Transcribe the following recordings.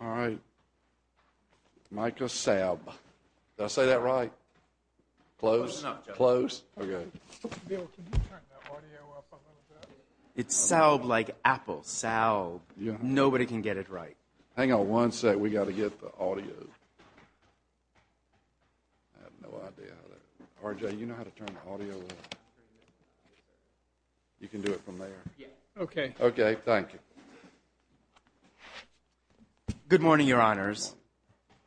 All right. Micah Saub. Did I say that right? Close? Close? Okay. Bill, can you turn the audio up a little bit? It's Saub like Apple. Saub. Nobody can get it right. Hang on one sec. We've got to get the audio. I have no idea. RJ, you know how to turn the audio up? You can do it from there. Okay. Okay. Thank you. Good morning, Your Honors.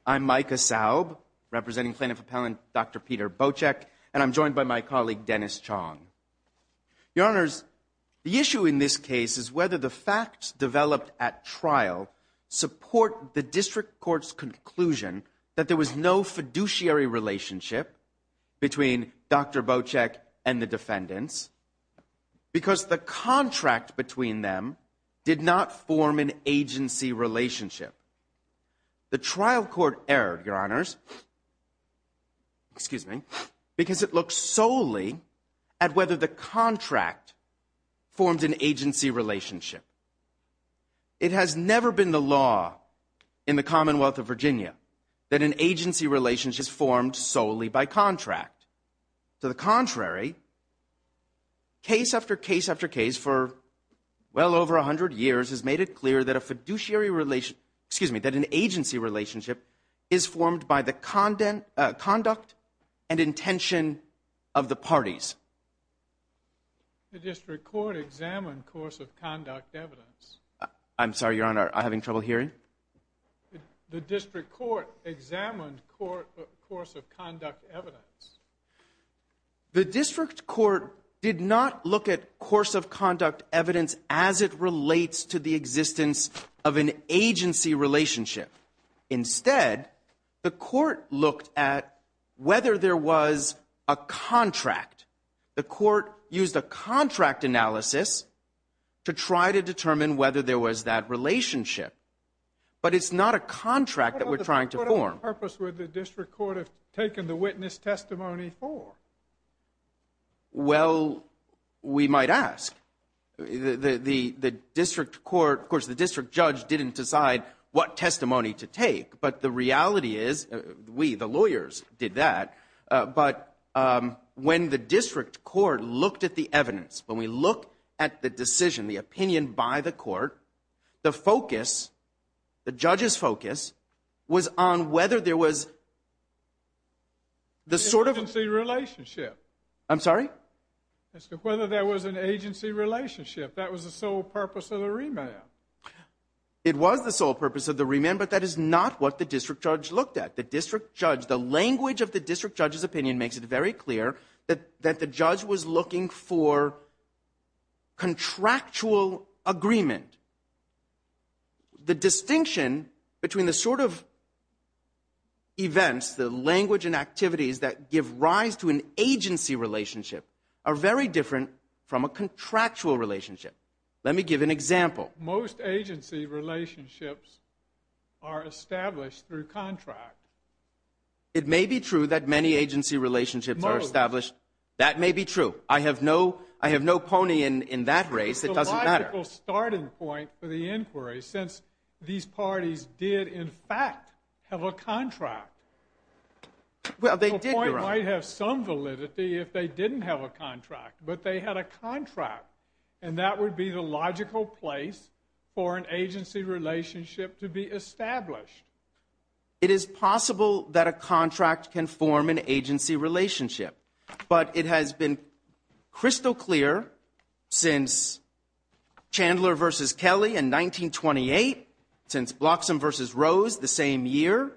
I'm Micah Saub, representing plaintiff appellant Dr. Peter Bocek, and I'm joined by my colleague Dennis Chong. Your Honors, the issue in this case is whether the facts developed at trial support the district court's conclusion that there was no fiduciary relationship between Dr. Bocek and the defendants because the contract between them did not form an agency relationship. The trial court erred, Your Honors, because it looked solely at whether the contract formed an agency relationship. It has never been the law in the Commonwealth of Virginia that an agency relationship is formed solely by contract. To the contrary, case after case after case for well over 100 years has made it clear that a fiduciary relationship, excuse me, that an agency relationship is formed by the conduct and intention of the parties. The district court examined course of conduct evidence. I'm sorry, Your Honor, I'm having trouble hearing? The district court examined course of conduct evidence. The district court did not look at course of conduct evidence as it relates to the existence of an agency relationship. Instead, the court looked at whether there was a contract. The court used a contract analysis to try to determine whether there was that but it's not a contract that we're trying to form. What purpose would the district court have taken the witness testimony for? Well, we might ask. The district court, of course, the district judge didn't decide what testimony to take, but the reality is we, the lawyers, did that. But when the district court looked at the evidence, when we look at the decision, the opinion by the court, the focus, the judge's focus, was on whether there was the sort of... An agency relationship. I'm sorry? Whether there was an agency relationship. That was the sole purpose of the remand. It was the sole purpose of the remand, but that is not what the district judge looked at. The district judge, the language of the district judge's opinion makes it very agreement. The distinction between the sort of events, the language and activities that give rise to an agency relationship are very different from a contractual relationship. Let me give an example. Most agency relationships are established through contract. It may be true that many agency relationships are established. That may be true. I have no pony in that race. It doesn't matter. It's a logical starting point for the inquiry since these parties did, in fact, have a contract. Well, they did, Your Honor. The point might have some validity if they didn't have a contract, but they had a contract, and that would be the logical place for an agency relationship to be established. It is possible that a contract can form an agency relationship, but it has been crystal clear since Chandler versus Kelly in 1928, since Bloxham versus Rose the same year,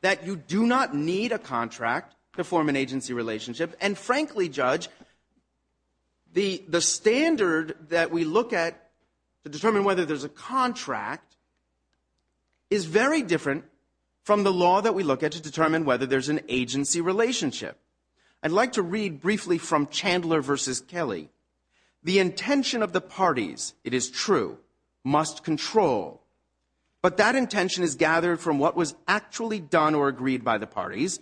that you do not need a contract to form an agency relationship. And frankly, Judge, the standard that we look at to determine whether there's a contract is very different from the law that we look at to determine whether there's an agency relationship. I'd like to read briefly from Chandler versus Kelly. The intention of the parties, it is true, must control. But that intention is gathered from what was actually done or agreed by the parties,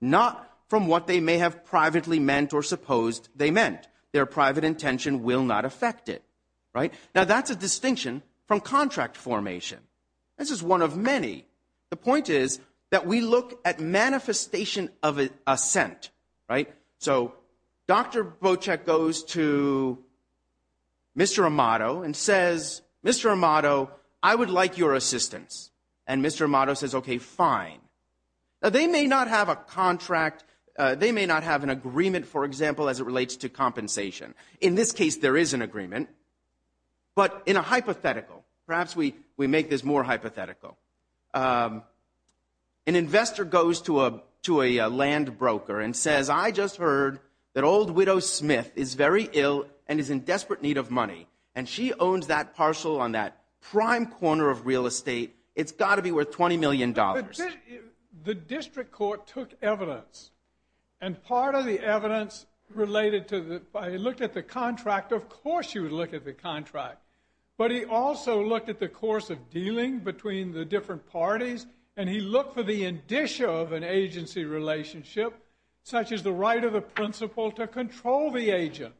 not from what they may have privately meant or supposed they meant. Their private intention will not affect it. Now, that's a distinction from contract formation. This is one of many. The point is that we look at manifestation of assent, right? So Dr. Bocek goes to Mr. Amato and says, Mr. Amato, I would like your assistance. And Mr. Amato says, okay, fine. They may not have a contract. They may not have an agreement, for example, as it relates to compensation. In this case, there is an agreement. But in a hypothetical, perhaps we make this more hypothetical. An investor goes to a land broker and says, I just heard that old widow Smith is very ill and is in desperate need of money. And she owns that parcel on that prime corner of real estate. It's got to be worth $20 million. The district court took evidence. And part of the evidence related to the, I looked at the contract, of course you would look at the contract. But he also looked at the course of dealing between the different parties. And he looked for the indicia of an agency relationship, such as the right of the principal to control the agent.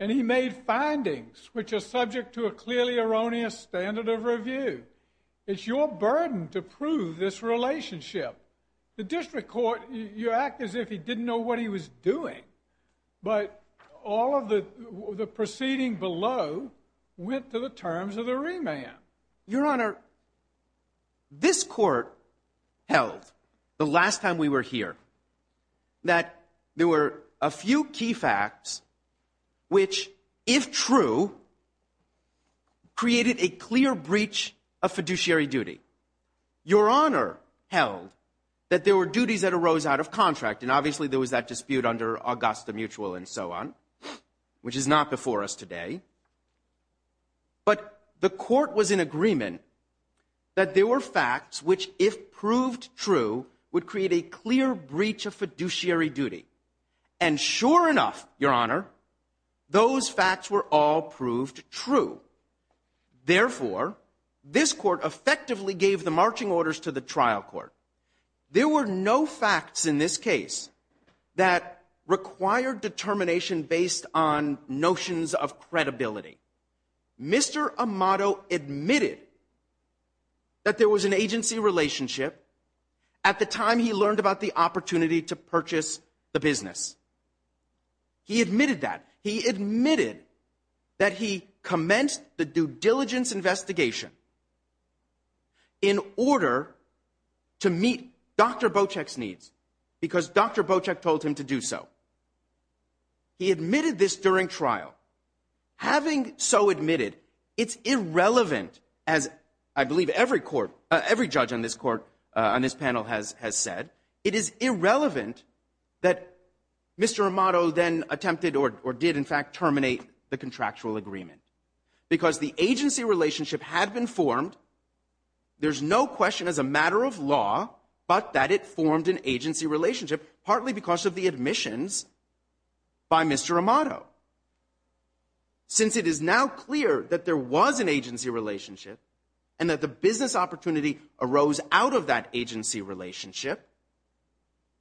And he made findings which are subject to a clearly erroneous standard of review. It's your burden to prove this relationship. The district court, you act as if he didn't know what he was doing. But all of the, the proceeding below went to the terms of the remand. Your honor, this court held the last time we were here, that there were a few key facts, which if true, created a clear breach of fiduciary duty. Your honor held that there were duties that arose out of contract. And obviously there was that dispute under Augusta mutual and so on, which is not before us today, but the court was in agreement that there were facts, which if proved true would create a clear breach of fiduciary duty. And sure enough, your honor, those facts were all proved true. Therefore this court effectively gave the marching orders to the trial court. There were no facts in this case that required determination based on notions of credibility. Mr. Amato admitted that there was an agency relationship at the time he learned about the opportunity to purchase the business. He admitted that he admitted that he commenced the due diligence investigation in order to meet Dr. Bocek's needs because Dr. Bocek told him to do so. He admitted this during trial having so admitted it's irrelevant as I believe every court, every judge on this court on this panel has, has said it is irrelevant that Mr. Amato then attempted or did in fact terminate the contractual agreement because the agency relationship had been formed. There's no question as a matter of law, but that it formed an agency relationship partly because of the admissions by Mr. Amato. Since it is now clear that there was an agency relationship and that the business opportunity arose out of that agency relationship,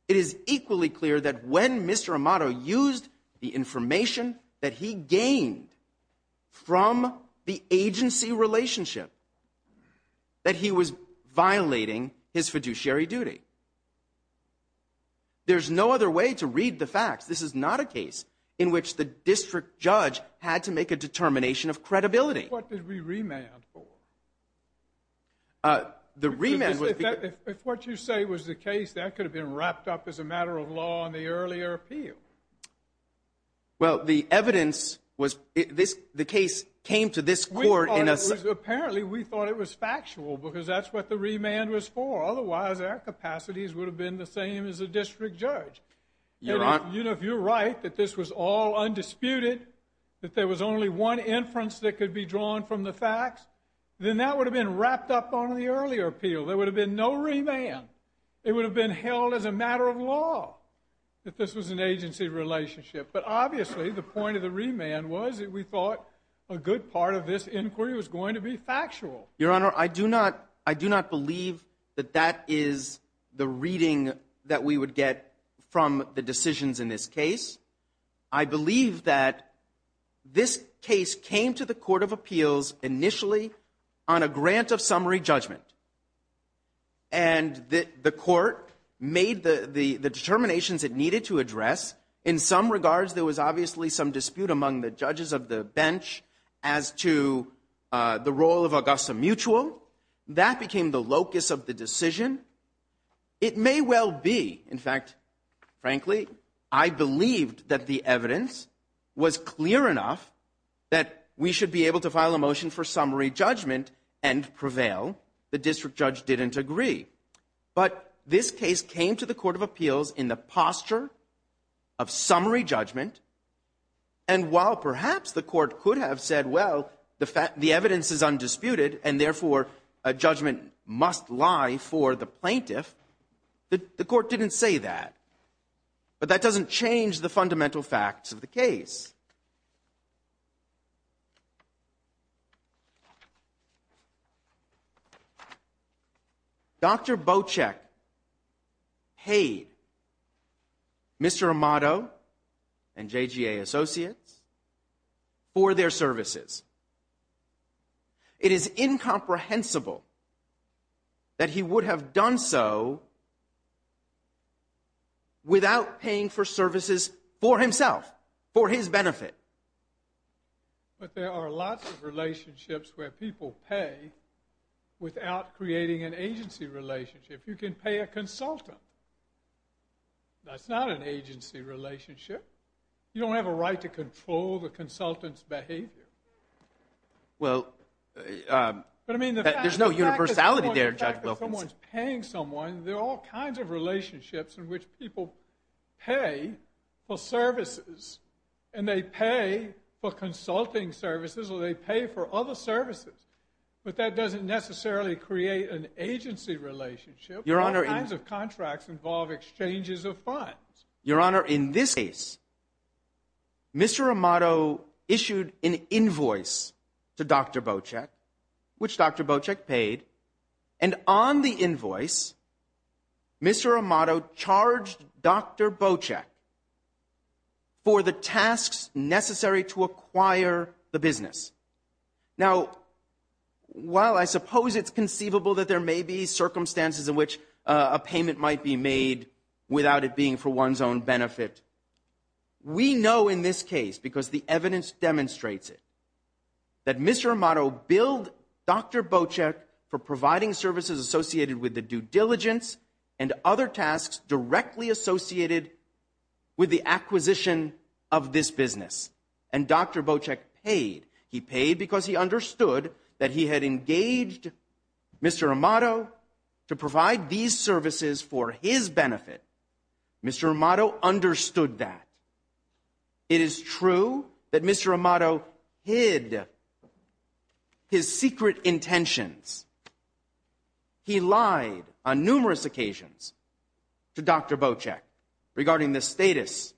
it is equally clear that when Mr. Amato used the information that he gained from the agency relationship, that he was violating his fiduciary duty. There's no other way to read the facts. This is not a case in which the district judge had to make a determination of credibility. What did we remand for? Uh, the remand. If what you say was the case that could have been wrapped up as a matter of law on the earlier appeal. Well, the evidence was this. The case came to this court and apparently we thought it was factual because that's what the remand was for. Otherwise our capacities would have been the same as a district judge. You know, if you're right, that this was all undisputed, that there was only one inference that could be drawn from the facts, then that would have been wrapped up on the earlier appeal. There would have been no remand. It would have been held as a matter of law. That this was an agency relationship. But obviously the point of the remand was that we thought a good part of this inquiry was going to be factual. Your Honor, I do not, I do not believe that that is the reading that we would get from the decisions in this case. I believe that this case came to the court of appeals initially on a grant of summary judgment and that the court made the, the determinations it needed to address. In some regards there was obviously some dispute among the judges of the bench as to the role of Augusta Mutual. That became the locus of the decision. It may well be. In fact, frankly, I believed that the evidence was clear enough that we should be able to file a motion for summary judgment and prevail. The district judge didn't agree, but this case came to the court of appeals in the posture of summary judgment. And while perhaps the court could have said, well, the fact, the evidence is undisputed and therefore a judgment must lie for the plaintiff. The court didn't say that, but that doesn't change the fundamental facts of the case. Okay. Dr. Bocheck paid Mr. Amato and JGA associates for their services. It is incomprehensible that he would have done so without paying for services for himself, for his benefit. But there are lots of relationships where people pay without creating an agency relationship. You can pay a consultant. That's not an agency relationship. You don't have a right to control the consultant's behavior. Well, there's no universality there, Judge Wilkins. Someone's paying someone. There are all kinds of relationships in which people pay for services and they pay for consulting services or they pay for other services, but that doesn't necessarily create an agency relationship. Your Honor, all kinds of contracts involve exchanges of funds. Your Honor, in this case, Mr. Amato issued an invoice to Dr. Bocheck, which Dr. Bocheck issued an invoice. Mr. Amato charged Dr. Bocheck for the tasks necessary to acquire the business. Now, while I suppose it's conceivable that there may be circumstances in which a payment might be made without it being for one's own benefit. We know in this case, because the evidence demonstrates it, that Mr. Amato billed Dr. Bocheck for providing services associated with the due diligence and other tasks directly associated with the acquisition of this business. And Dr. Bocheck paid. He paid because he understood that he had engaged Mr. Amato to provide these services for his benefit. Mr. Amato understood that. It is true that Mr. Amato hid his secret intentions. He lied on numerous occasions to Dr. Bocheck regarding the status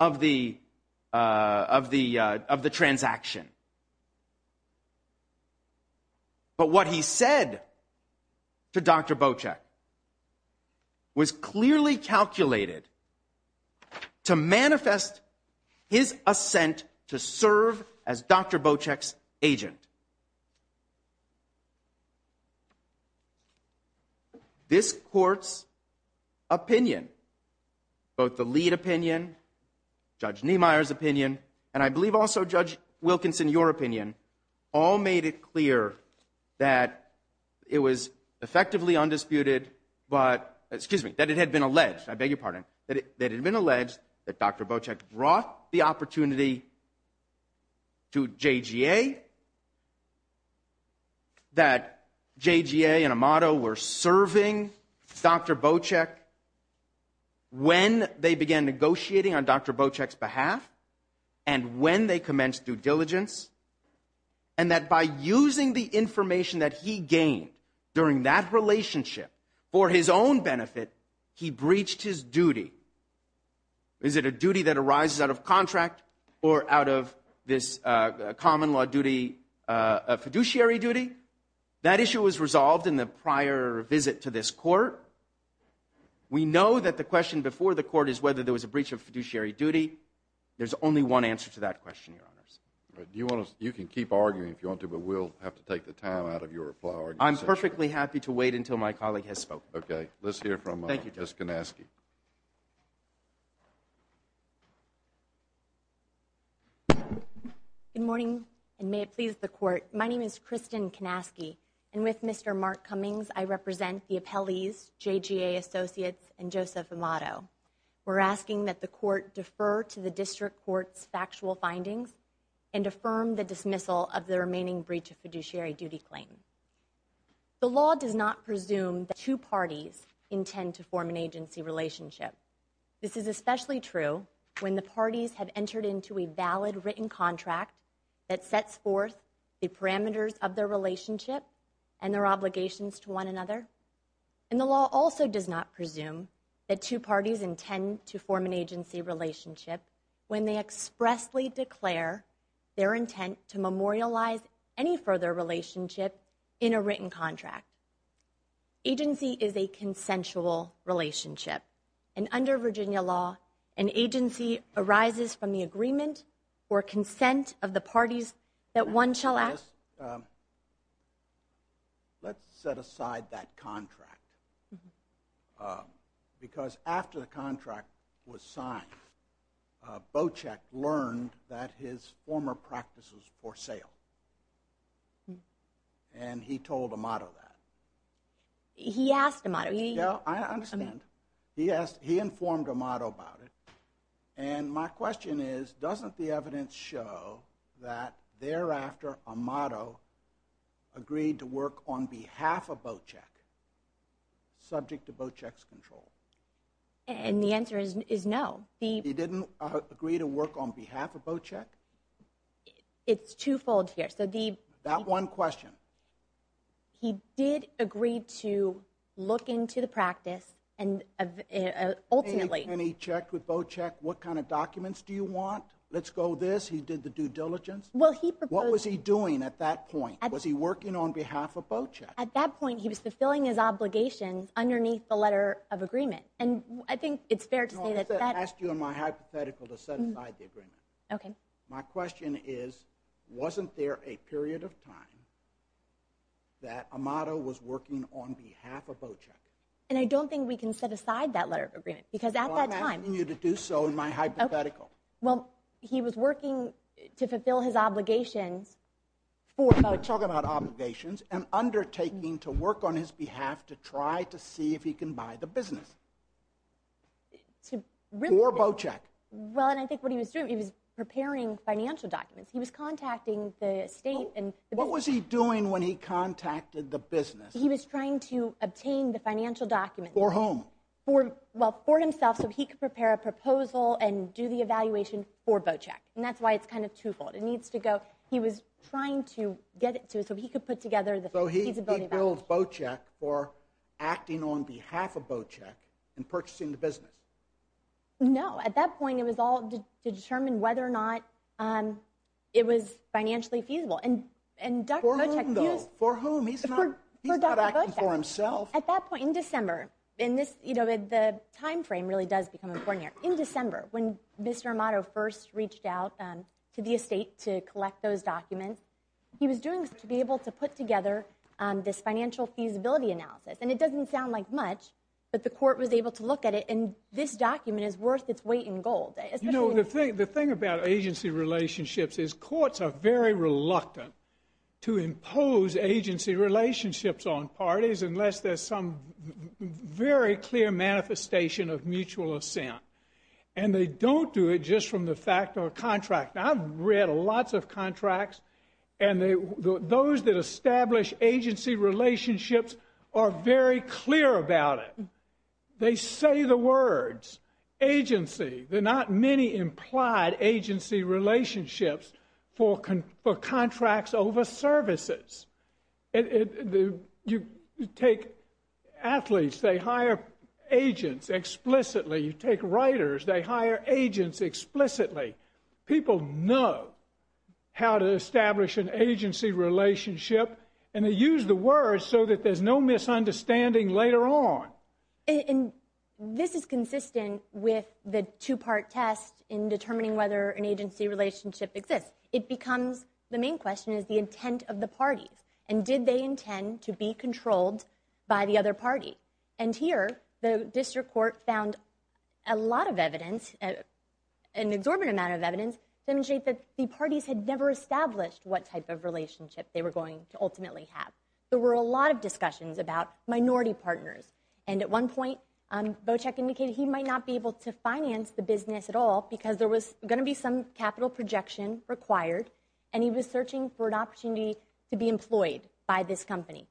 of the, of the, of the transaction. But what he said to Dr. Bocheck was clearly calculated to manifest his assent, to serve as Dr. Bocheck's agent. This court's opinion, both the lead opinion, judge Niemeyer's opinion, and I believe also judge Wilkinson, your opinion all made it clear that it was effectively undisclosed. It was undisputed, but excuse me, that it had been alleged, I beg your pardon, that it had been alleged that Dr. Bocheck brought the opportunity to JGA, that JGA and Amato were serving Dr. Bocheck when they began negotiating on Dr. Bocheck's behalf and when they commenced due diligence and that by using the relationship for his own benefit, he breached his duty. Is it a duty that arises out of contract or out of this common law duty, a fiduciary duty? That issue was resolved in the prior visit to this court. We know that the question before the court is whether there was a breach of fiduciary duty. There's only one answer to that question, your honors. Do you want to, you can keep arguing if you want to, but we'll have to take the time out of your flower. I'm perfectly happy to wait until my colleague has spoken. Okay. Let's hear from. Thank you. Just going to ask you. Good morning. And may it please the court. My name is Kristen can asky and with Mr. Mark Cummings, I represent the appellees, JGA associates and Joseph Amato. We're asking that the court defer to the district court's factual findings and affirm the dismissal of the remaining breach of fiduciary duty claim. The law does not presume that two parties intend to form an agency relationship. This is especially true when the parties have entered into a valid written contract that sets forth the parameters of their relationship and their obligations to one another. And the law also does not presume that two parties intend to form an agency relationship when they expressly declare their intent to memorialize any further relationship in a written contract. Agency is a consensual relationship and under Virginia law, an agency arises from the agreement or consent of the parties that one shall ask. Let's set aside that contract because after the contract was signed, Bocek learned that his former practices for sale and he told Amato that he asked him on it. I understand. He asked, he informed Amato about it and my question is doesn't the evidence show that thereafter Amato agreed to work on behalf of Bocek subject to Bocek's control? And the answer is no. He didn't agree to work on behalf of Bocek. It's twofold here. So the, that one question, he did agree to look into the practice and ultimately, and he checked with Bocek. What kind of documents do you want? Let's go this. He did the due diligence. What was he doing at that point? Was he working on behalf of Bocek? At that point he was fulfilling his obligations underneath the letter of agreement. And I think it's fair to say that. I asked you on my hypothetical to set aside the agreement. Okay. My question is, wasn't there a period of time that Amato was working on behalf of Bocek? And I don't think we can set aside that letter of agreement because at that time. I'm asking you to do so in my hypothetical. Well, he was working to fulfill his obligations for Bocek. We're talking about obligations and undertaking to work on his behalf to try to see if he can buy the business. or Bocek. Well, and I think what he was doing, he was preparing financial documents. He was contacting the state. And what was he doing when he contacted the business? He was trying to obtain the financial documents. For whom? For, well, for himself. So he could prepare a proposal and do the evaluation for Bocek. And that's why it's kind of twofold. It needs to go. He was trying to get it to, so he could put together the, so he builds Bocek for acting on behalf of Bocek and purchasing the business. No, at that point it was all determined whether or not it was financially feasible and, and for whom he's not, he's not acting for himself. At that point in December in this, you know, the timeframe really does become important here in December when Mr. Amato first reached out to the estate to collect those documents, he was doing this to be able to put together this financial feasibility analysis. And it doesn't sound like much, but the court was able to look at it. And this document is worth its weight in gold. You know, the thing, the thing about agency relationships is courts are very reluctant to impose agency relationships on parties unless there's some very clear manifestation of mutual assent. And they don't do it just from the fact or contract. Now I've read a lots of contracts and they, those that establish agency relationships are very clear about it. They say the words agency. They're not many implied agency relationships for, for contracts over services. You take athletes, they hire agents explicitly. You take writers, they hire agents explicitly. People know how to establish an agency relationship. And they use the word so that there's no misunderstanding later on. And this is consistent with the two part test in determining whether an agency relationship exists. It becomes the main question is the intent of the parties. And did they intend to be controlled by the other party? And here the district court found a lot of evidence, an exorbitant amount of evidence to demonstrate that the parties had never established what type of relationship they were going to ultimately have. There were a lot of discussions about minority partners. And at one point, Bocek indicated he might not be able to finance the business at all because there was going to be some capital projection required and he was searching for an opportunity to be employed by this company.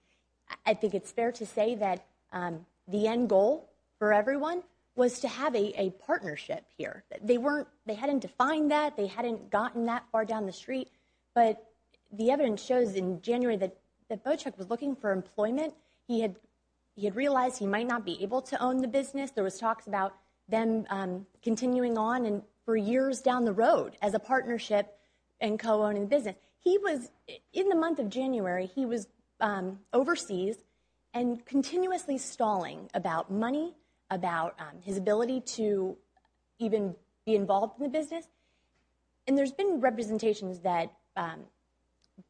I think it's fair to say that the end goal for everyone was to have a relationship here. They hadn't defined that. They hadn't gotten that far down the street. But the evidence shows in January that Bocek was looking for employment. He had realized he might not be able to own the business. There was talks about them continuing on for years down the road as a partnership and co-owning the business. In the month of January, he was overseas and continuously stalling about money, about his ability to even be involved in the business. And there's been representations that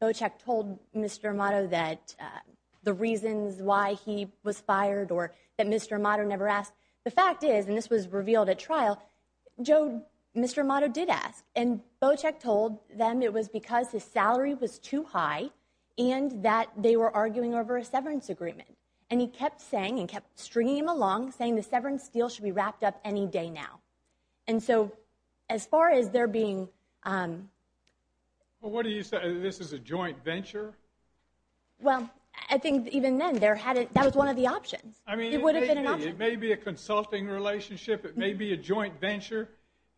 Bocek told Mr. Amato that the reasons why he was fired or that Mr. Amato never asked. The fact is, and this was revealed at trial, Mr. Amato did ask and Bocek told them it was because his salary was too high and that they were arguing over a severance agreement. And he kept saying and kept stringing him along saying the severance deal should be wrapped up any day now. And so as far as there being, um, well, what do you say this is a joint venture? Well, I think even then there hadn't, that was one of the options. I mean, it may be a consulting relationship. It may be a joint venture.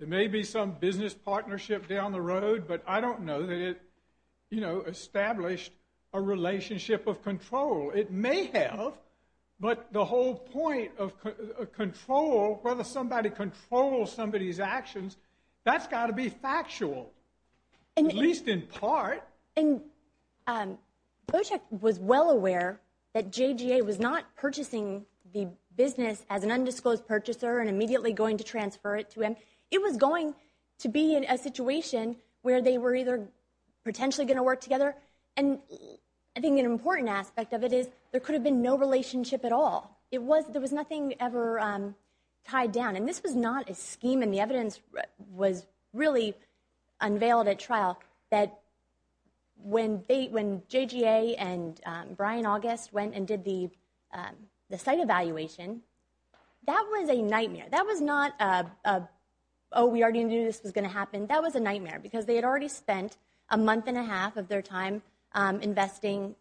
There may be some business partnership down the road, but I don't know that it, you know, established a relationship of control. It may have, but the whole point of control, whether somebody controls somebody's actions, that's got to be factual, at least in part. And, um, Bocek was well aware that JGA was not purchasing the business as an undisclosed purchaser and immediately going to transfer it to him. It was going to be in a situation where they were either potentially going to work together. And I think an important aspect of it is there could have been no relationship at all. It was, there was nothing ever, um, tied down. And this was not a scheme. And the evidence was really unveiled at trial that when they, when JGA and, um, Brian August went and did the, um, the site evaluation, that was a nightmare. That was not a, a, oh, we already knew this was going to happen. That was a nightmare because they had already spent a month and a half of their time, um, investing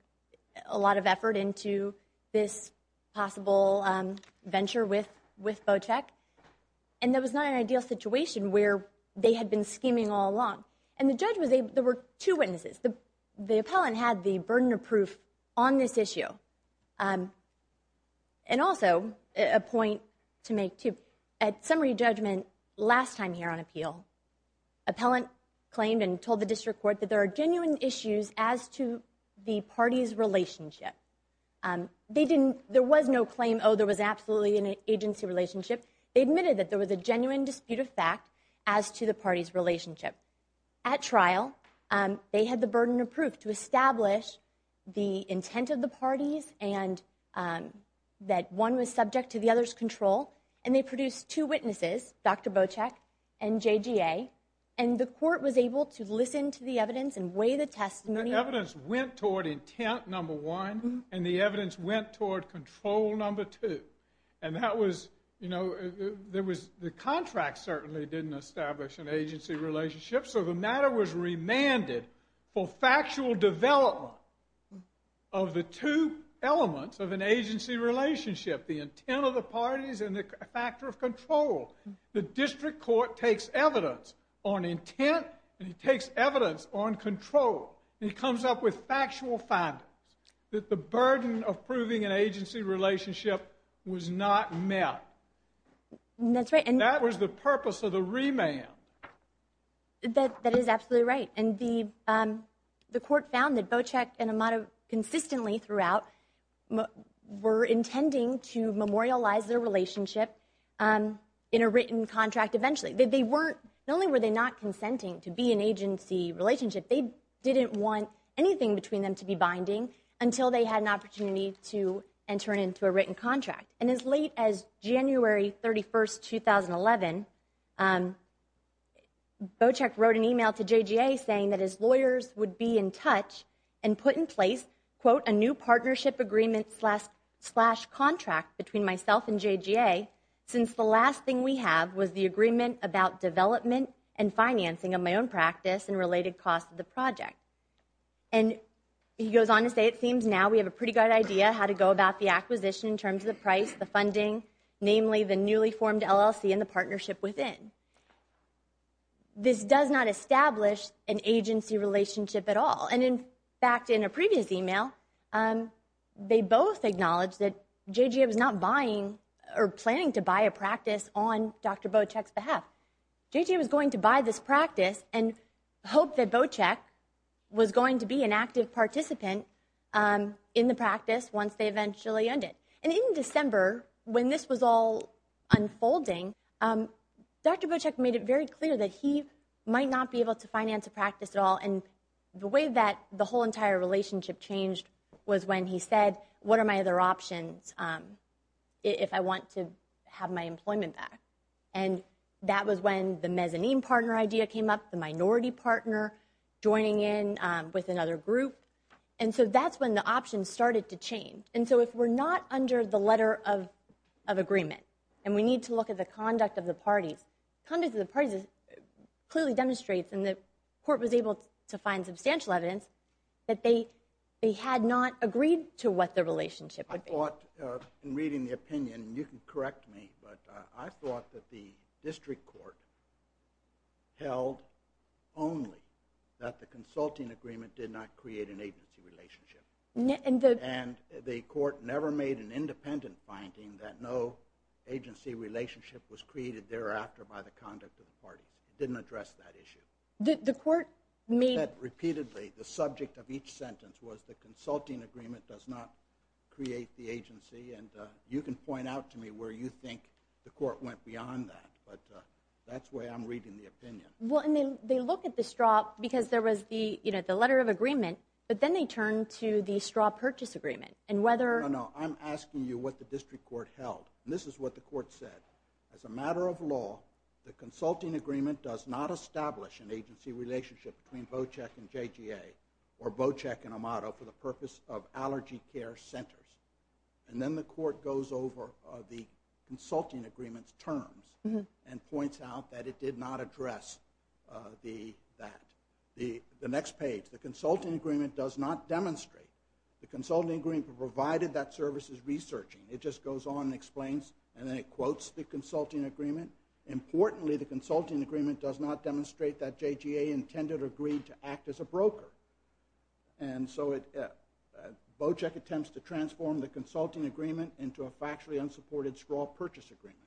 a lot of effort into this possible, um, venture with, with Bocek. And that was not an ideal situation where they had been scheming all along. And the judge was able, there were two witnesses. The, the appellant had the burden of proof on this issue. Um, and also a point to make too. At summary judgment last time here on appeal, appellant claimed and told the district court that there are genuine issues as to the party's relationship. Um, they didn't, there was no claim. Oh, there was absolutely an agency relationship. They admitted that there was a genuine dispute of fact as to the party's relationship at trial. Um, they had the burden of proof to establish the intent of the parties and, um, that one was subject to the other's control. And they produced two witnesses, Dr. Bocek and JGA. And the court was able to listen to the evidence and weigh the testimony. Evidence went toward intent. Number one, and the evidence went toward control number two. And that was, you know, there was the contract certainly didn't establish an agency relationship. So the matter was remanded for factual development of the two elements of an agency relationship, the intent of the parties and the factor of control. The district court takes evidence on intent and he takes evidence on control. And he comes up with factual findings that the burden of proving an agency relationship was not met. That's right. And that was the purpose of the remand. That is absolutely right. And the, um, the court found that Bocek and Amato consistently throughout were intending to memorialize their relationship in a written contract eventually. They weren't, not only were they not consenting to be an agency relationship, they didn't want anything between them to be binding until they had an opportunity to enter into a written contract. And as late as January 31st, 2011, um, Bocek wrote an email to JGA saying that his lawyers would be in touch and put in place, quote, a new partnership agreement slash contract between myself and JGA. Since the last thing we have was the agreement about development and financing of my own practice and related costs of the project. And he goes on to say, it seems now we have a pretty good idea how to go about the acquisition in terms of the price, the funding, namely the newly formed LLC and the partnership within. This does not establish an agency relationship at all. And in fact, in a previous email, um, they both acknowledge that JGA was not buying or planning to buy a practice on Dr. Bocek's behalf. JJ was going to buy this practice and hope that Bocek was going to be an active participant, um, in the practice once they eventually ended. And in December, when this was all unfolding, um, Dr. Bocek made it very clear that he might not be able to finance a practice at all. And the way that the whole entire relationship changed was when he said, what are my other options? Um, if I want to have my employment back. And that was when the mezzanine partner idea came up, the minority partner joining in, um, with another group. And so that's when the options started to change. And so if we're not under the letter of, of agreement and we need to look at the conduct of the parties, clearly demonstrates and the court was able to find substantial evidence that they, they had not agreed to what the relationship would be. I thought, uh, in reading the opinion, you can correct me, but, uh, I thought that the district court held only that the consulting agreement did not create an agency relationship. And the, and the court never made an independent finding that no agency relationship was created thereafter by the conduct of the parties. It didn't address that issue. The court may have repeatedly, the subject of each sentence was the consulting agreement does not create the agency. And, uh, you can point out to me where you think the court went beyond that, but, uh, that's where I'm reading the opinion. Well, and they, they look at the straw because there was the, you know, the letter of agreement, but then they turned to the straw purchase agreement and whether, no, no, I'm asking you what the district court held. And this is what the court said. As a matter of law, the consulting agreement does not establish an agency relationship between Bocheck and JGA or Bocheck and Amato for the purpose of allergy care centers. And then the court goes over the consulting agreements terms and points out that it did not address, uh, the, that the, the next page, the consulting agreement does not demonstrate the consulting agreement provided that services researching. It just goes on and explains, and then it quotes the consulting agreement. Importantly, the consulting agreement does not demonstrate that JGA intended or agreed to And so it, uh, uh, Bocheck attempts to transform the consulting agreement into a factually unsupported straw purchase agreement.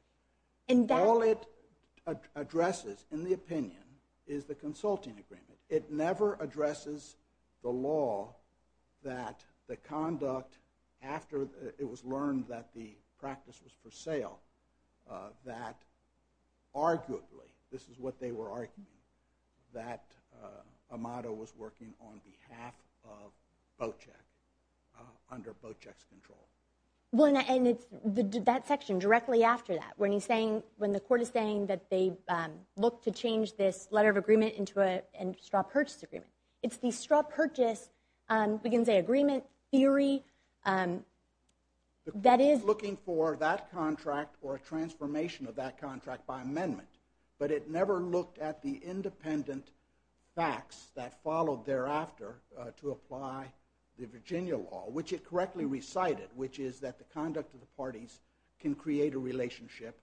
And all it, uh, addresses in the opinion is the consulting agreement. It never addresses the law that the conduct after it was learned that, that the practice was for sale, uh, that arguably, this is what they were arguing, that, uh, Amato was working on behalf of Bocheck, uh, under Bocheck's control. Well, and it's that section directly after that when he's saying, when the court is saying that they, um, look to change this letter of agreement into a straw purchase agreement. It's the straw purchase, um, we can say agreement theory, um, that is looking for that contract or a transformation of that contract by amendment. But it never looked at the independent facts that followed thereafter, uh, to apply the Virginia law, which it correctly recited, which is that the conduct of the parties can create a relationship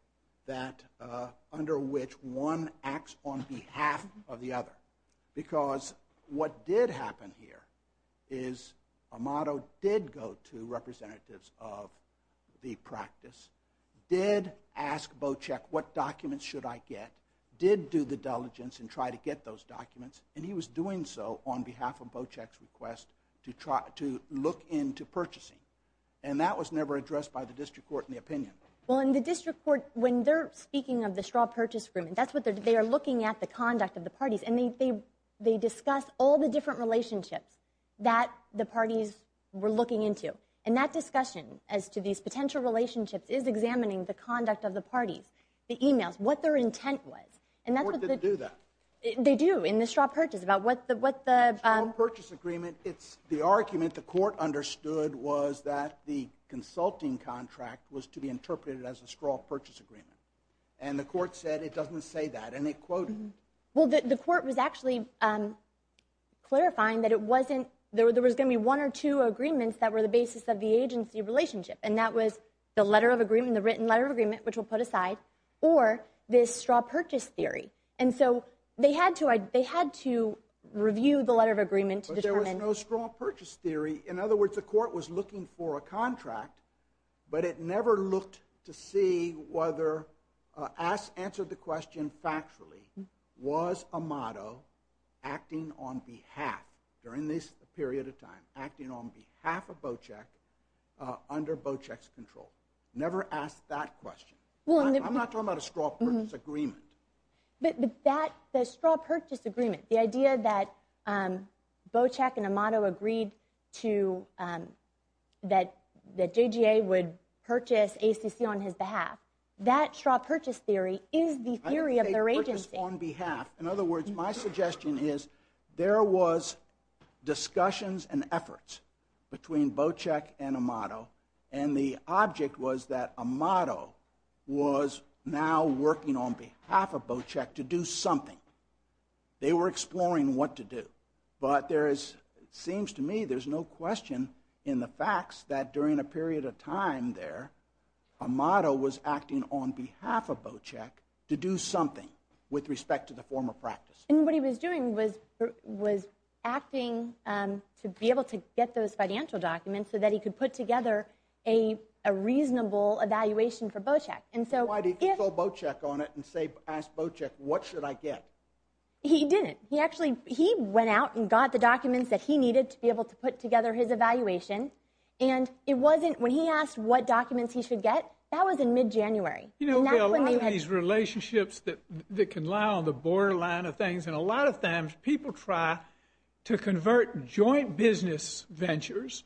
that, uh, under which one acts on behalf of the other. Because what did happen here is Amato did go to represent Bocheck, the representatives of the practice, did ask Bocheck what documents should I get, did do the diligence and try to get those documents, and he was doing so on behalf of Bocheck's request to try, to look into purchasing. And that was never addressed by the district court in the opinion. Well, in the district court, when they're speaking of the straw purchase agreement, that's what they're, they are looking at the conduct of the parties and they, they, they discuss all the different relationships that the parties were looking into. And that discussion as to these potential relationships is examining the conduct of the parties, the emails, what their intent was. And that's what they do that they do in the straw purchase about what the, what the, um, purchase agreement. It's the argument the court understood was that the consulting contract was to be interpreted as a straw purchase agreement. And the court said, it doesn't say that. And it quoted, well, the court was actually, um, clarifying that it wasn't there. So there was going to be one or two agreements that were the basis of the agency relationship. And that was the letter of agreement, the written letter of agreement, which we'll put aside or this straw purchase theory. And so they had to, I, they had to review the letter of agreement. There was no straw purchase theory. In other words, the court was looking for a contract, but it never looked to see whether, uh, asked, answered the question factually was a motto acting on behalf during this period of time, acting on behalf of Bocek, uh, under Bocek's control. Never asked that question. I'm not talking about a straw purchase agreement. But that, the straw purchase agreement, the idea that, um, Bocek and Amato agreed to, um, that, that JGA would purchase ACC on his behalf. That straw purchase theory is the theory of their agency. On behalf. In other words, my suggestion is there was discussions and efforts between Bocek and Amato. And the object was that Amato was now working on behalf of Bocek to do something. They were exploring what to do, but there is, it seems to me there's no question in the facts that during a period of time there, Amato was acting on behalf of Bocek to do something with respect to the former practice. And what he was doing was, was acting, um, to be able to get those financial documents so that he could put together a, a reasonable evaluation for Bocek. And so. Bocek on it and say, ask Bocek, what should I get? He didn't. He actually, he went out and got the documents that he needed to be able to put together his evaluation. And it wasn't when he asked what documents he should get. That was in mid January. Relationships that can lie on the borderline of things. And a lot of times people try to convert joint business ventures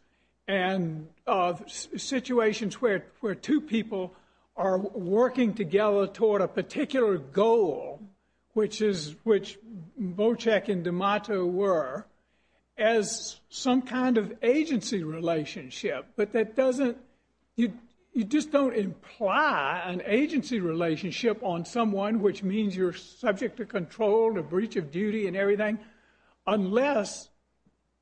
and of situations where, where two people are working together toward a particular goal, which is, which Bocek and Amato were as some kind of agency relationship. But that doesn't, you just don't imply an agency relationship on someone, which means you're subject to control, the breach of duty and everything. Unless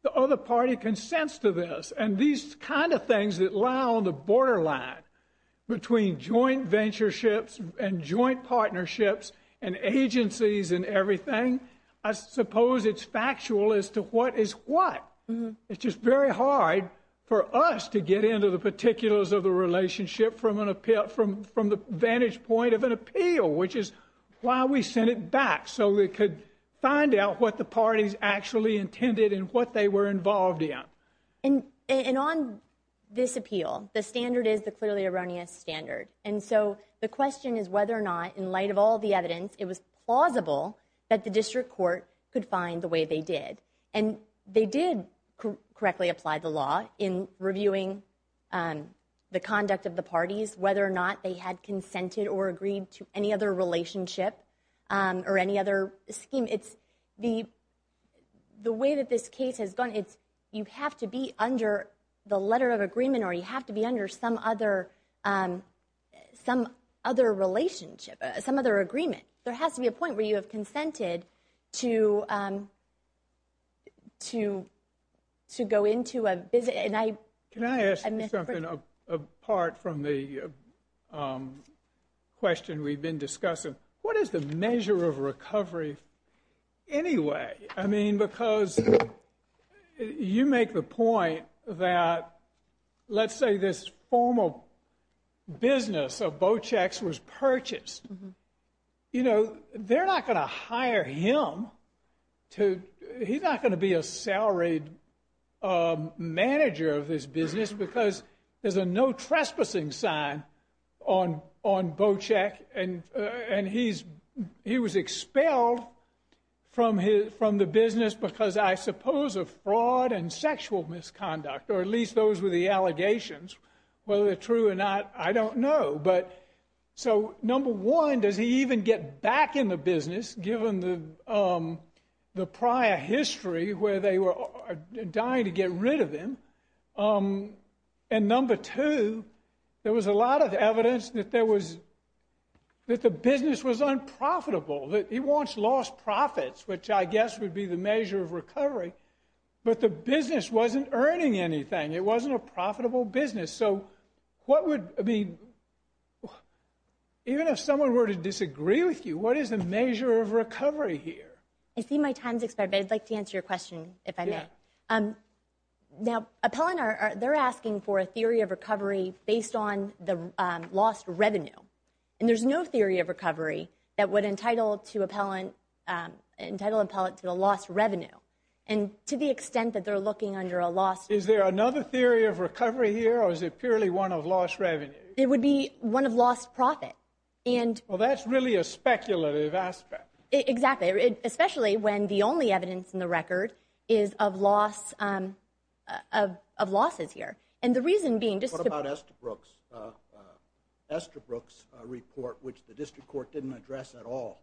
the other party consents to this. And these kinds of things that lie on the borderline between joint ventureships and joint partnerships and agencies and everything. I suppose it's factual as to what is what it's just very hard for us to get into the particulars of the relationship from an appeal from, from the vantage point of an appeal, which is why we sent it back. So we could find out what the parties actually intended and what they were involved in. And, and on this appeal, the standard is the clearly erroneous standard. And so the question is whether or not in light of all the evidence, it was plausible that the district court could find the way they did. And they did correctly apply the law in reviewing the conduct of the parties, whether or not they had consented or agreed to any other relationship or any other scheme. It's the, the way that this case has gone, it's you have to be under the letter of agreement or you have to be under some other, some other relationship, some other agreement. There has to be a point where you have consented to, to, to go into a visit. And I, can I ask something apart from the question we've been discussing? What is the measure of recovery anyway? I mean, because you make the point that let's say this formal business of Bochex was purchased. You know, they're not going to hire him to, he's not going to be a salaried manager of this business because there's a no trespassing sign on, on Bochex. And, and he's, he was expelled from his, from the business because I suppose of fraud and sexual misconduct, or at least those were the allegations, whether they're true or not, I don't know. But so number one, does he even get back in the business given the, the prior history where they were dying to get rid of him? And number two, there was a lot of evidence that there was, that the business was unprofitable, that he wants lost profits, which I guess would be the measure of recovery. But the business wasn't earning anything. It wasn't a profitable business. So what would, I mean, even if someone were to disagree with you, what is the measure of recovery here? I see my time's expired, but I'd like to answer your question if I may. Now, Appellant, they're asking for a theory of recovery based on the lost revenue. And there's no theory of recovery that would entitle to Appellant, entitle Appellant to the lost revenue. And to the extent that they're looking under a loss, is there another theory of recovery here? Or is it purely one of lost revenue? It would be one of lost profit. And, well, that's really a speculative aspect. Exactly. Especially when the only evidence in the record is of loss, of, of losses here. And the reason being just, what about Estabrook's, uh, uh, Estabrook's report, which the district court didn't address at all.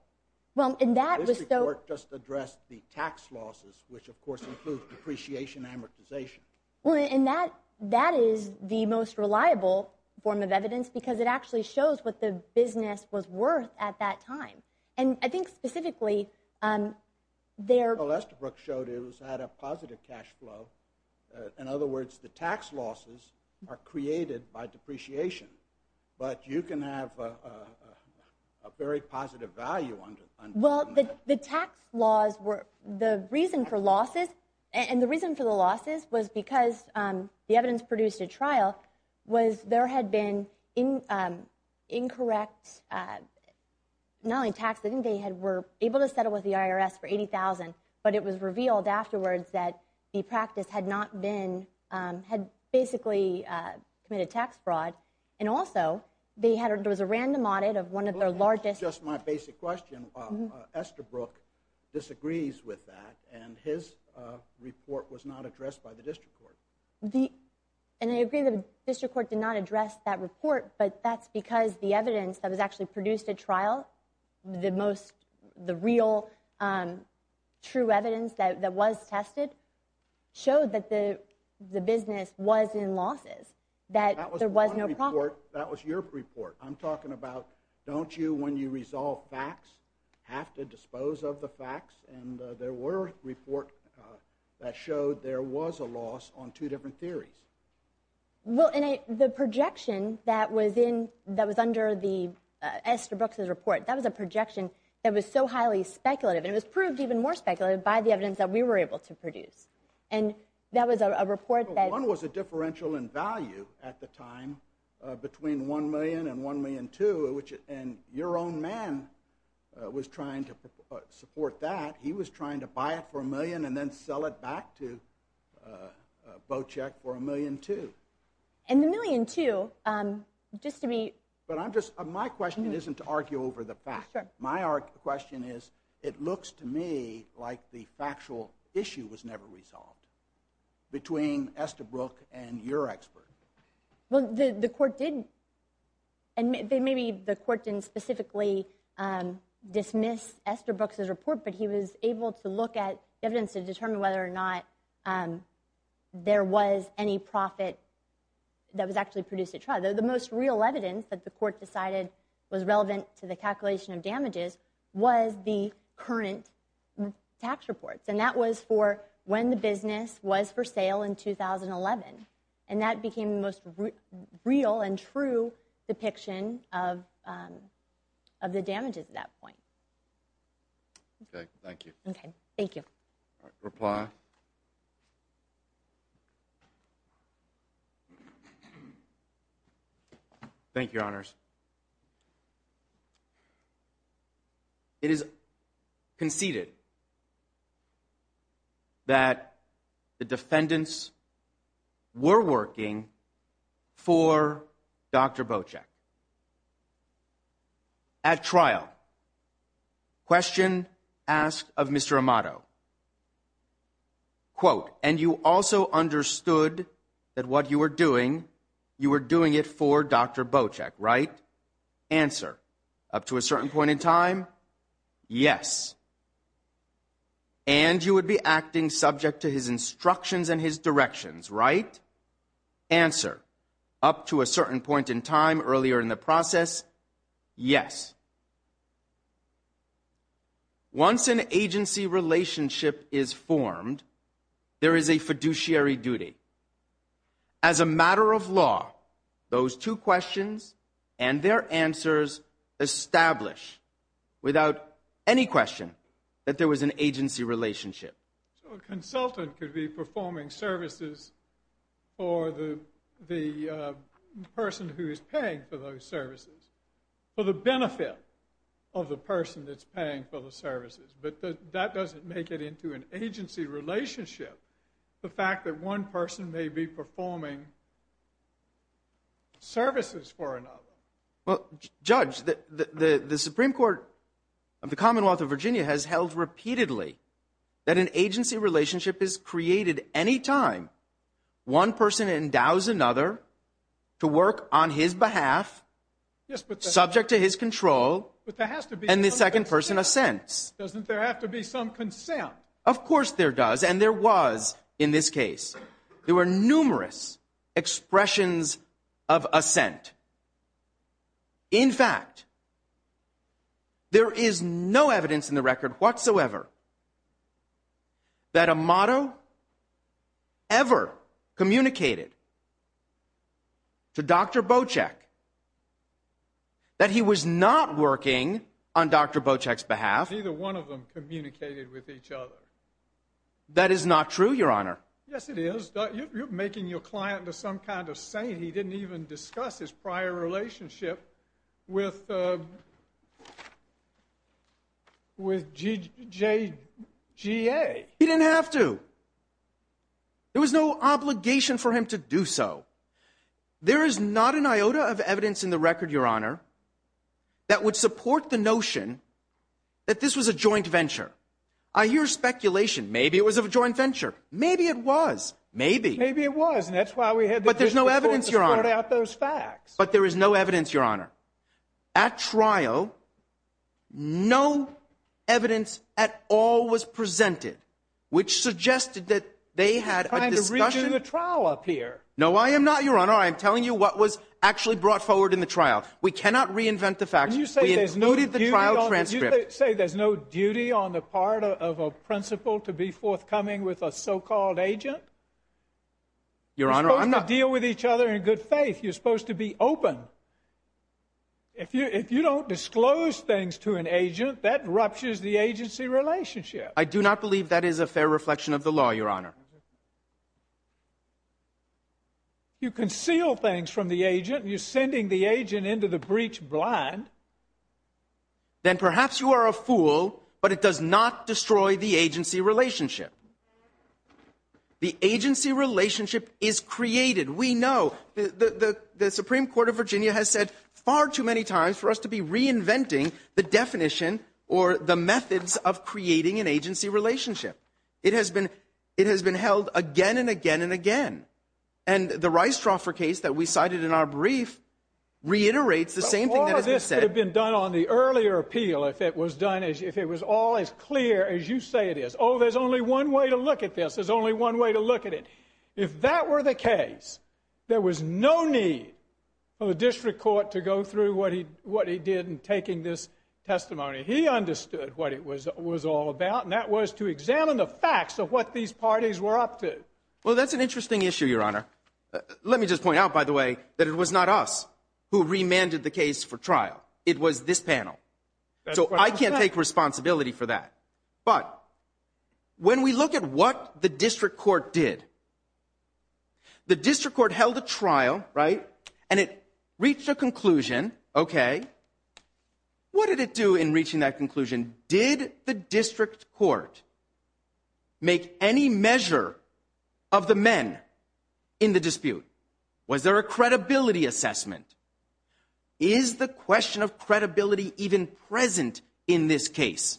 Well, and that was so, just addressed the tax losses, which of course includes depreciation, and amortization. Well, and that, that is the most reliable form of evidence, because it actually shows what the business was worth at that time. And I think specifically, um, there, well, Estabrook showed it was at a positive cash flow. Uh, in other words, the tax losses are created by depreciation. But you can have a, a, a, a very positive value under, under that. Well, the, the tax laws were, the reason for losses, and the reason for the losses was because, um, the evidence produced at trial was there had been in, um, incorrect, uh, not only tax, I think they had, were able to settle with the IRS for $80,000, but it was revealed afterwards that the practice had not been, um, had basically, uh, committed tax fraud. And also, they had, there was a random audit of one of their largest. Just my basic question, um, uh, Estabrook disagrees with that, and his, uh, report was not addressed by the district court. The, and I agree the district court did not address that report, but that's because the evidence that was actually produced at trial, the most, the real, um, true evidence that, that was tested, showed that the, the business was in losses, that there was no problem. That was one report, that was your report. I'm talking about, don't you, when you resolve facts, have to dispose of the facts, and, uh, there were reports, uh, that showed there was a loss on two different theories. Well, and I, the projection that was in, that was under the, uh, Estabrook's report, that was a projection that was so highly speculative, and it was proved even more speculative by the evidence that we were able to produce. And that was a, a report that, One was a differential in value at the time, uh, between one million and one million two, which, and your own man, uh, was trying to, uh, support that. He was trying to buy it for a million and then sell it back to, uh, uh, Bocek for a million two. And the million two, um, just to be, But I'm just, my question isn't to argue over the fact. Sure. My question is, it looks to me like the factual issue was never resolved, between Estabrook and your expert. Well, the, the court didn't, and maybe the court didn't specifically, um, dismiss Estabrook's report, but he was able to look at evidence to determine whether or not, um, there was any profit that was actually produced at trial. The, the most real evidence that the court decided was relevant to the calculation of damages was the current tax reports. And that was for when the business was for sale in 2011. And that became the most real and true depiction of, um, of the damages at that point. Okay. Thank you. Okay. Thank you. Reply. Thank you, your honors. It is conceded that the defendants were working for Dr. At trial question asked of Mr. Amato quote. And you also understood that what you were doing, you were doing it for Dr. Bojack, right? Answer up to a certain point in time. Yes. And you would be acting subject to his instructions and his directions, right? Answer up to a certain point in time earlier in the process. Yes. Once an agency relationship is formed, there is a fiduciary duty. As a matter of law, those two questions and their answers. Establish. Without any question that there was an agency relationship. So a consultant could be performing services. Or the, the, uh, person who is paying for those services. Well, the benefit of the person that's paying for the services, but that doesn't make it into an agency relationship. The fact that one person may be performing. Services for another. Well, judge the, the, the Supreme court of the Commonwealth of Virginia has held repeatedly. That an agency relationship is created. Anytime. One person endows another. To work on his behalf. Yes, but subject to his control, but there has to be. And the second person assents. Doesn't there have to be some consent? Of course there does. And there was in this case, there were numerous expressions. Of ascent. In fact. There is no evidence in the record whatsoever. That a motto. Ever communicated. To dr. Bojack. That he was not working on dr. Bojack's behalf. Either one of them communicated with each other. That is not true. Your honor. Yes, it is. You're making your client to some kind of saying he didn't even discuss his prior relationship. With. With G.J. G.A. He didn't have to. There was no obligation for him to do so. There is not an iota of evidence in the record. Your honor. That would support the notion. That this was a joint venture. I hear speculation. Maybe it was a joint venture. Maybe it was. Maybe, maybe it was. And that's why we had, but there's no evidence. Your honor out those facts. But there is no evidence. Your honor. At trial. No. Evidence. At all was presented. Which suggested that they had. A trial up here. No, I am not your honor. I'm telling you what was actually brought forward in the trial. We cannot reinvent the facts. You say there's no. Did the trial. Transcript. Say there's no duty on the part of a principal to be forthcoming with a so-called agent. Your honor. I'm not deal with each other in good faith. You're supposed to be open. If you, if you don't disclose things to an agent that ruptures the agency relationship. I do not believe that is a fair reflection of the law. Your honor. You conceal things from the agent. You sending the agent into the breach blind. Then perhaps you are a fool, but it does not destroy the agency relationship. The agency relationship is created. We know. The, the, the Supreme Court of Virginia has said far too many times for us to be reinventing the definition or the methods of creating an agency relationship. It has been, it has been held again and again and again. And the rice dropper case that we cited in our brief. Reiterates the same thing that has been said. Done on the earlier appeal. If it was done, as if it was all as clear as you say it is, oh, there's only one way to look at this. There's only one way to look at it. If that were the case, there was no need for the district court to go through what he, what he did in taking this testimony. He understood what it was, it was all about. And that was to examine the facts of what these parties were up to. Well, that's an interesting issue, your honor. Let me just point out by the way, that it was not us who remanded the case for trial. It was this panel. So I can't take responsibility for that. But. When we look at what the district court did. The district court held a trial, right? And it reached a conclusion. Okay. What did it do in reaching that conclusion? Did the district court. Make any measure. Of the men. In the dispute. Was there a credibility assessment? Is the question of credibility even present in this case?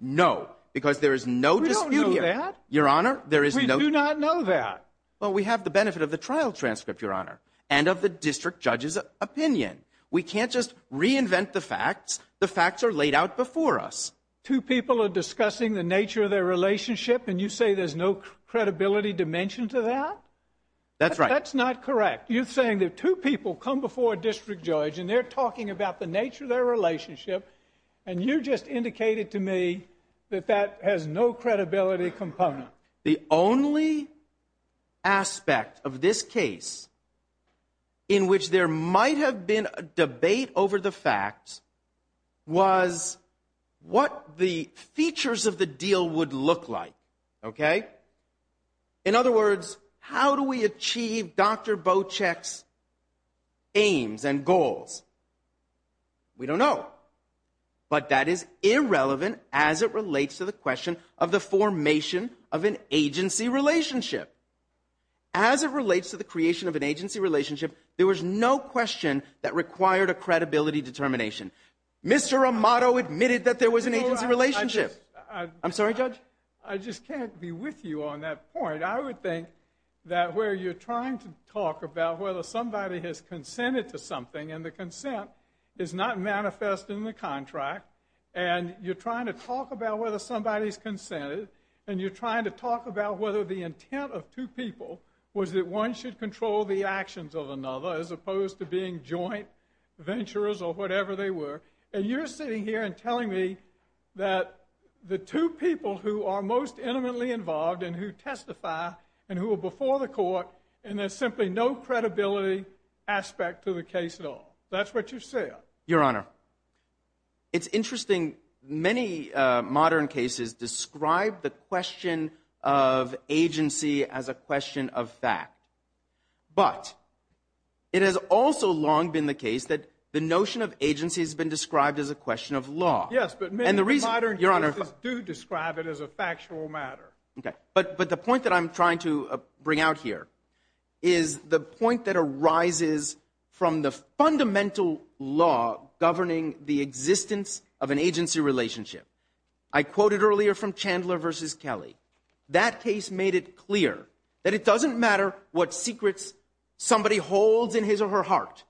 No, because there is no dispute here. Your honor, there is no, we do not know that. Well, we have the benefit of the trial transcript, your honor, and of the district judge's opinion. We can't just reinvent the facts. The facts are laid out before us. Two people are discussing the nature of their relationship. And you say there's no credibility dimension to that. That's right. That's not correct. You're saying that two people come before a district judge and they're talking about the nature of their relationship. And you just indicated to me. That that has no credibility component. The only. Aspect of this case. In which there might have been a debate over the facts. Was. What the features of the deal would look like. Okay. In other words, how do we achieve Dr. Bo checks? Aims and goals. We don't know. But that is irrelevant. As it relates to the question of the formation of an agency relationship. As it relates to the creation of an agency relationship, there was no question that required a credibility determination. Mr. Amato admitted that there was an agency relationship. I'm sorry, judge. I just can't be with you on that point. I would think. That where you're trying to talk about whether somebody has consented to something. And the consent. Is not manifest in the contract. And you're trying to talk about whether somebody's consented. And you're trying to talk about whether the intent of two people. Was it? One should control the actions of another, as opposed to being joint. Ventures or whatever they were. And you're sitting here and telling me. That. The two people who are most intimately involved and who testify. And who are before the court. And there's simply no credibility. Aspect to the case at all. That's what you said. Your honor. It's interesting. Many modern cases describe the question. Of agency as a question of fact. But. It has also long been the case that the notion of agency has been described as a question of law. Yes. And the reason your honor. Do describe it as a factual matter. Okay. But, but the point that I'm trying to bring out here. Is the point that arises. From the fundamental law governing the existence of an agency relationship. I quoted earlier from Chandler versus Kelly. That case made it clear. That it doesn't matter what secrets. Somebody holds in his or her heart.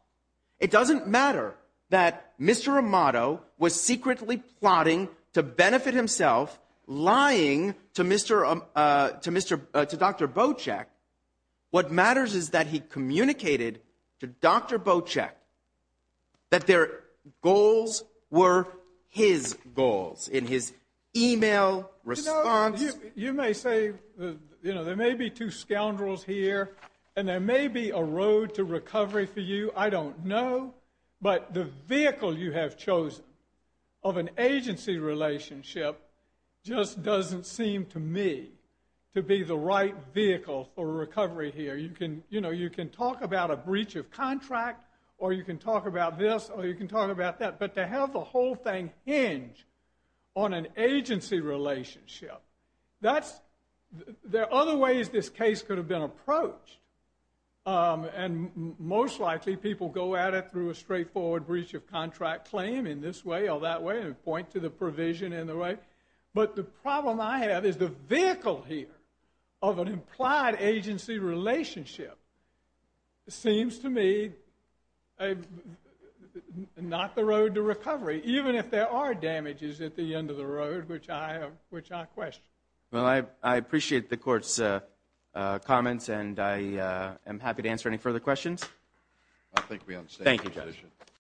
It doesn't matter that Mr. Amato was secretly plotting to benefit himself. Lying to Mr. To Mr. To Dr. Bojack. What matters is that he communicated to Dr. Bojack. That their goals were his goals in his. Email response. You may say. You know, there may be two scoundrels here. And there may be a road to recovery for you. I don't know. But the vehicle you have chosen. Of an agency relationship. Just doesn't seem to me. To be the right vehicle for recovery here. You can, you know, you can talk about a breach of contract. Or you can talk about this. Or you can talk about that. But to have the whole thing hinge. On an agency relationship. That's. There are other ways this case could have been approached. And most likely people go at it through a straightforward breach of contract claim. In this way or that way. And point to the provision in the way. But the problem I have is the vehicle here. Of an implied agency relationship. Seems to me. Not the road to recovery. Even if there are damages at the end of the road. Which I have. Which I question. Well, I appreciate the courts. Comments and I am happy to answer any further questions. I think we understand. Thank you, Judge.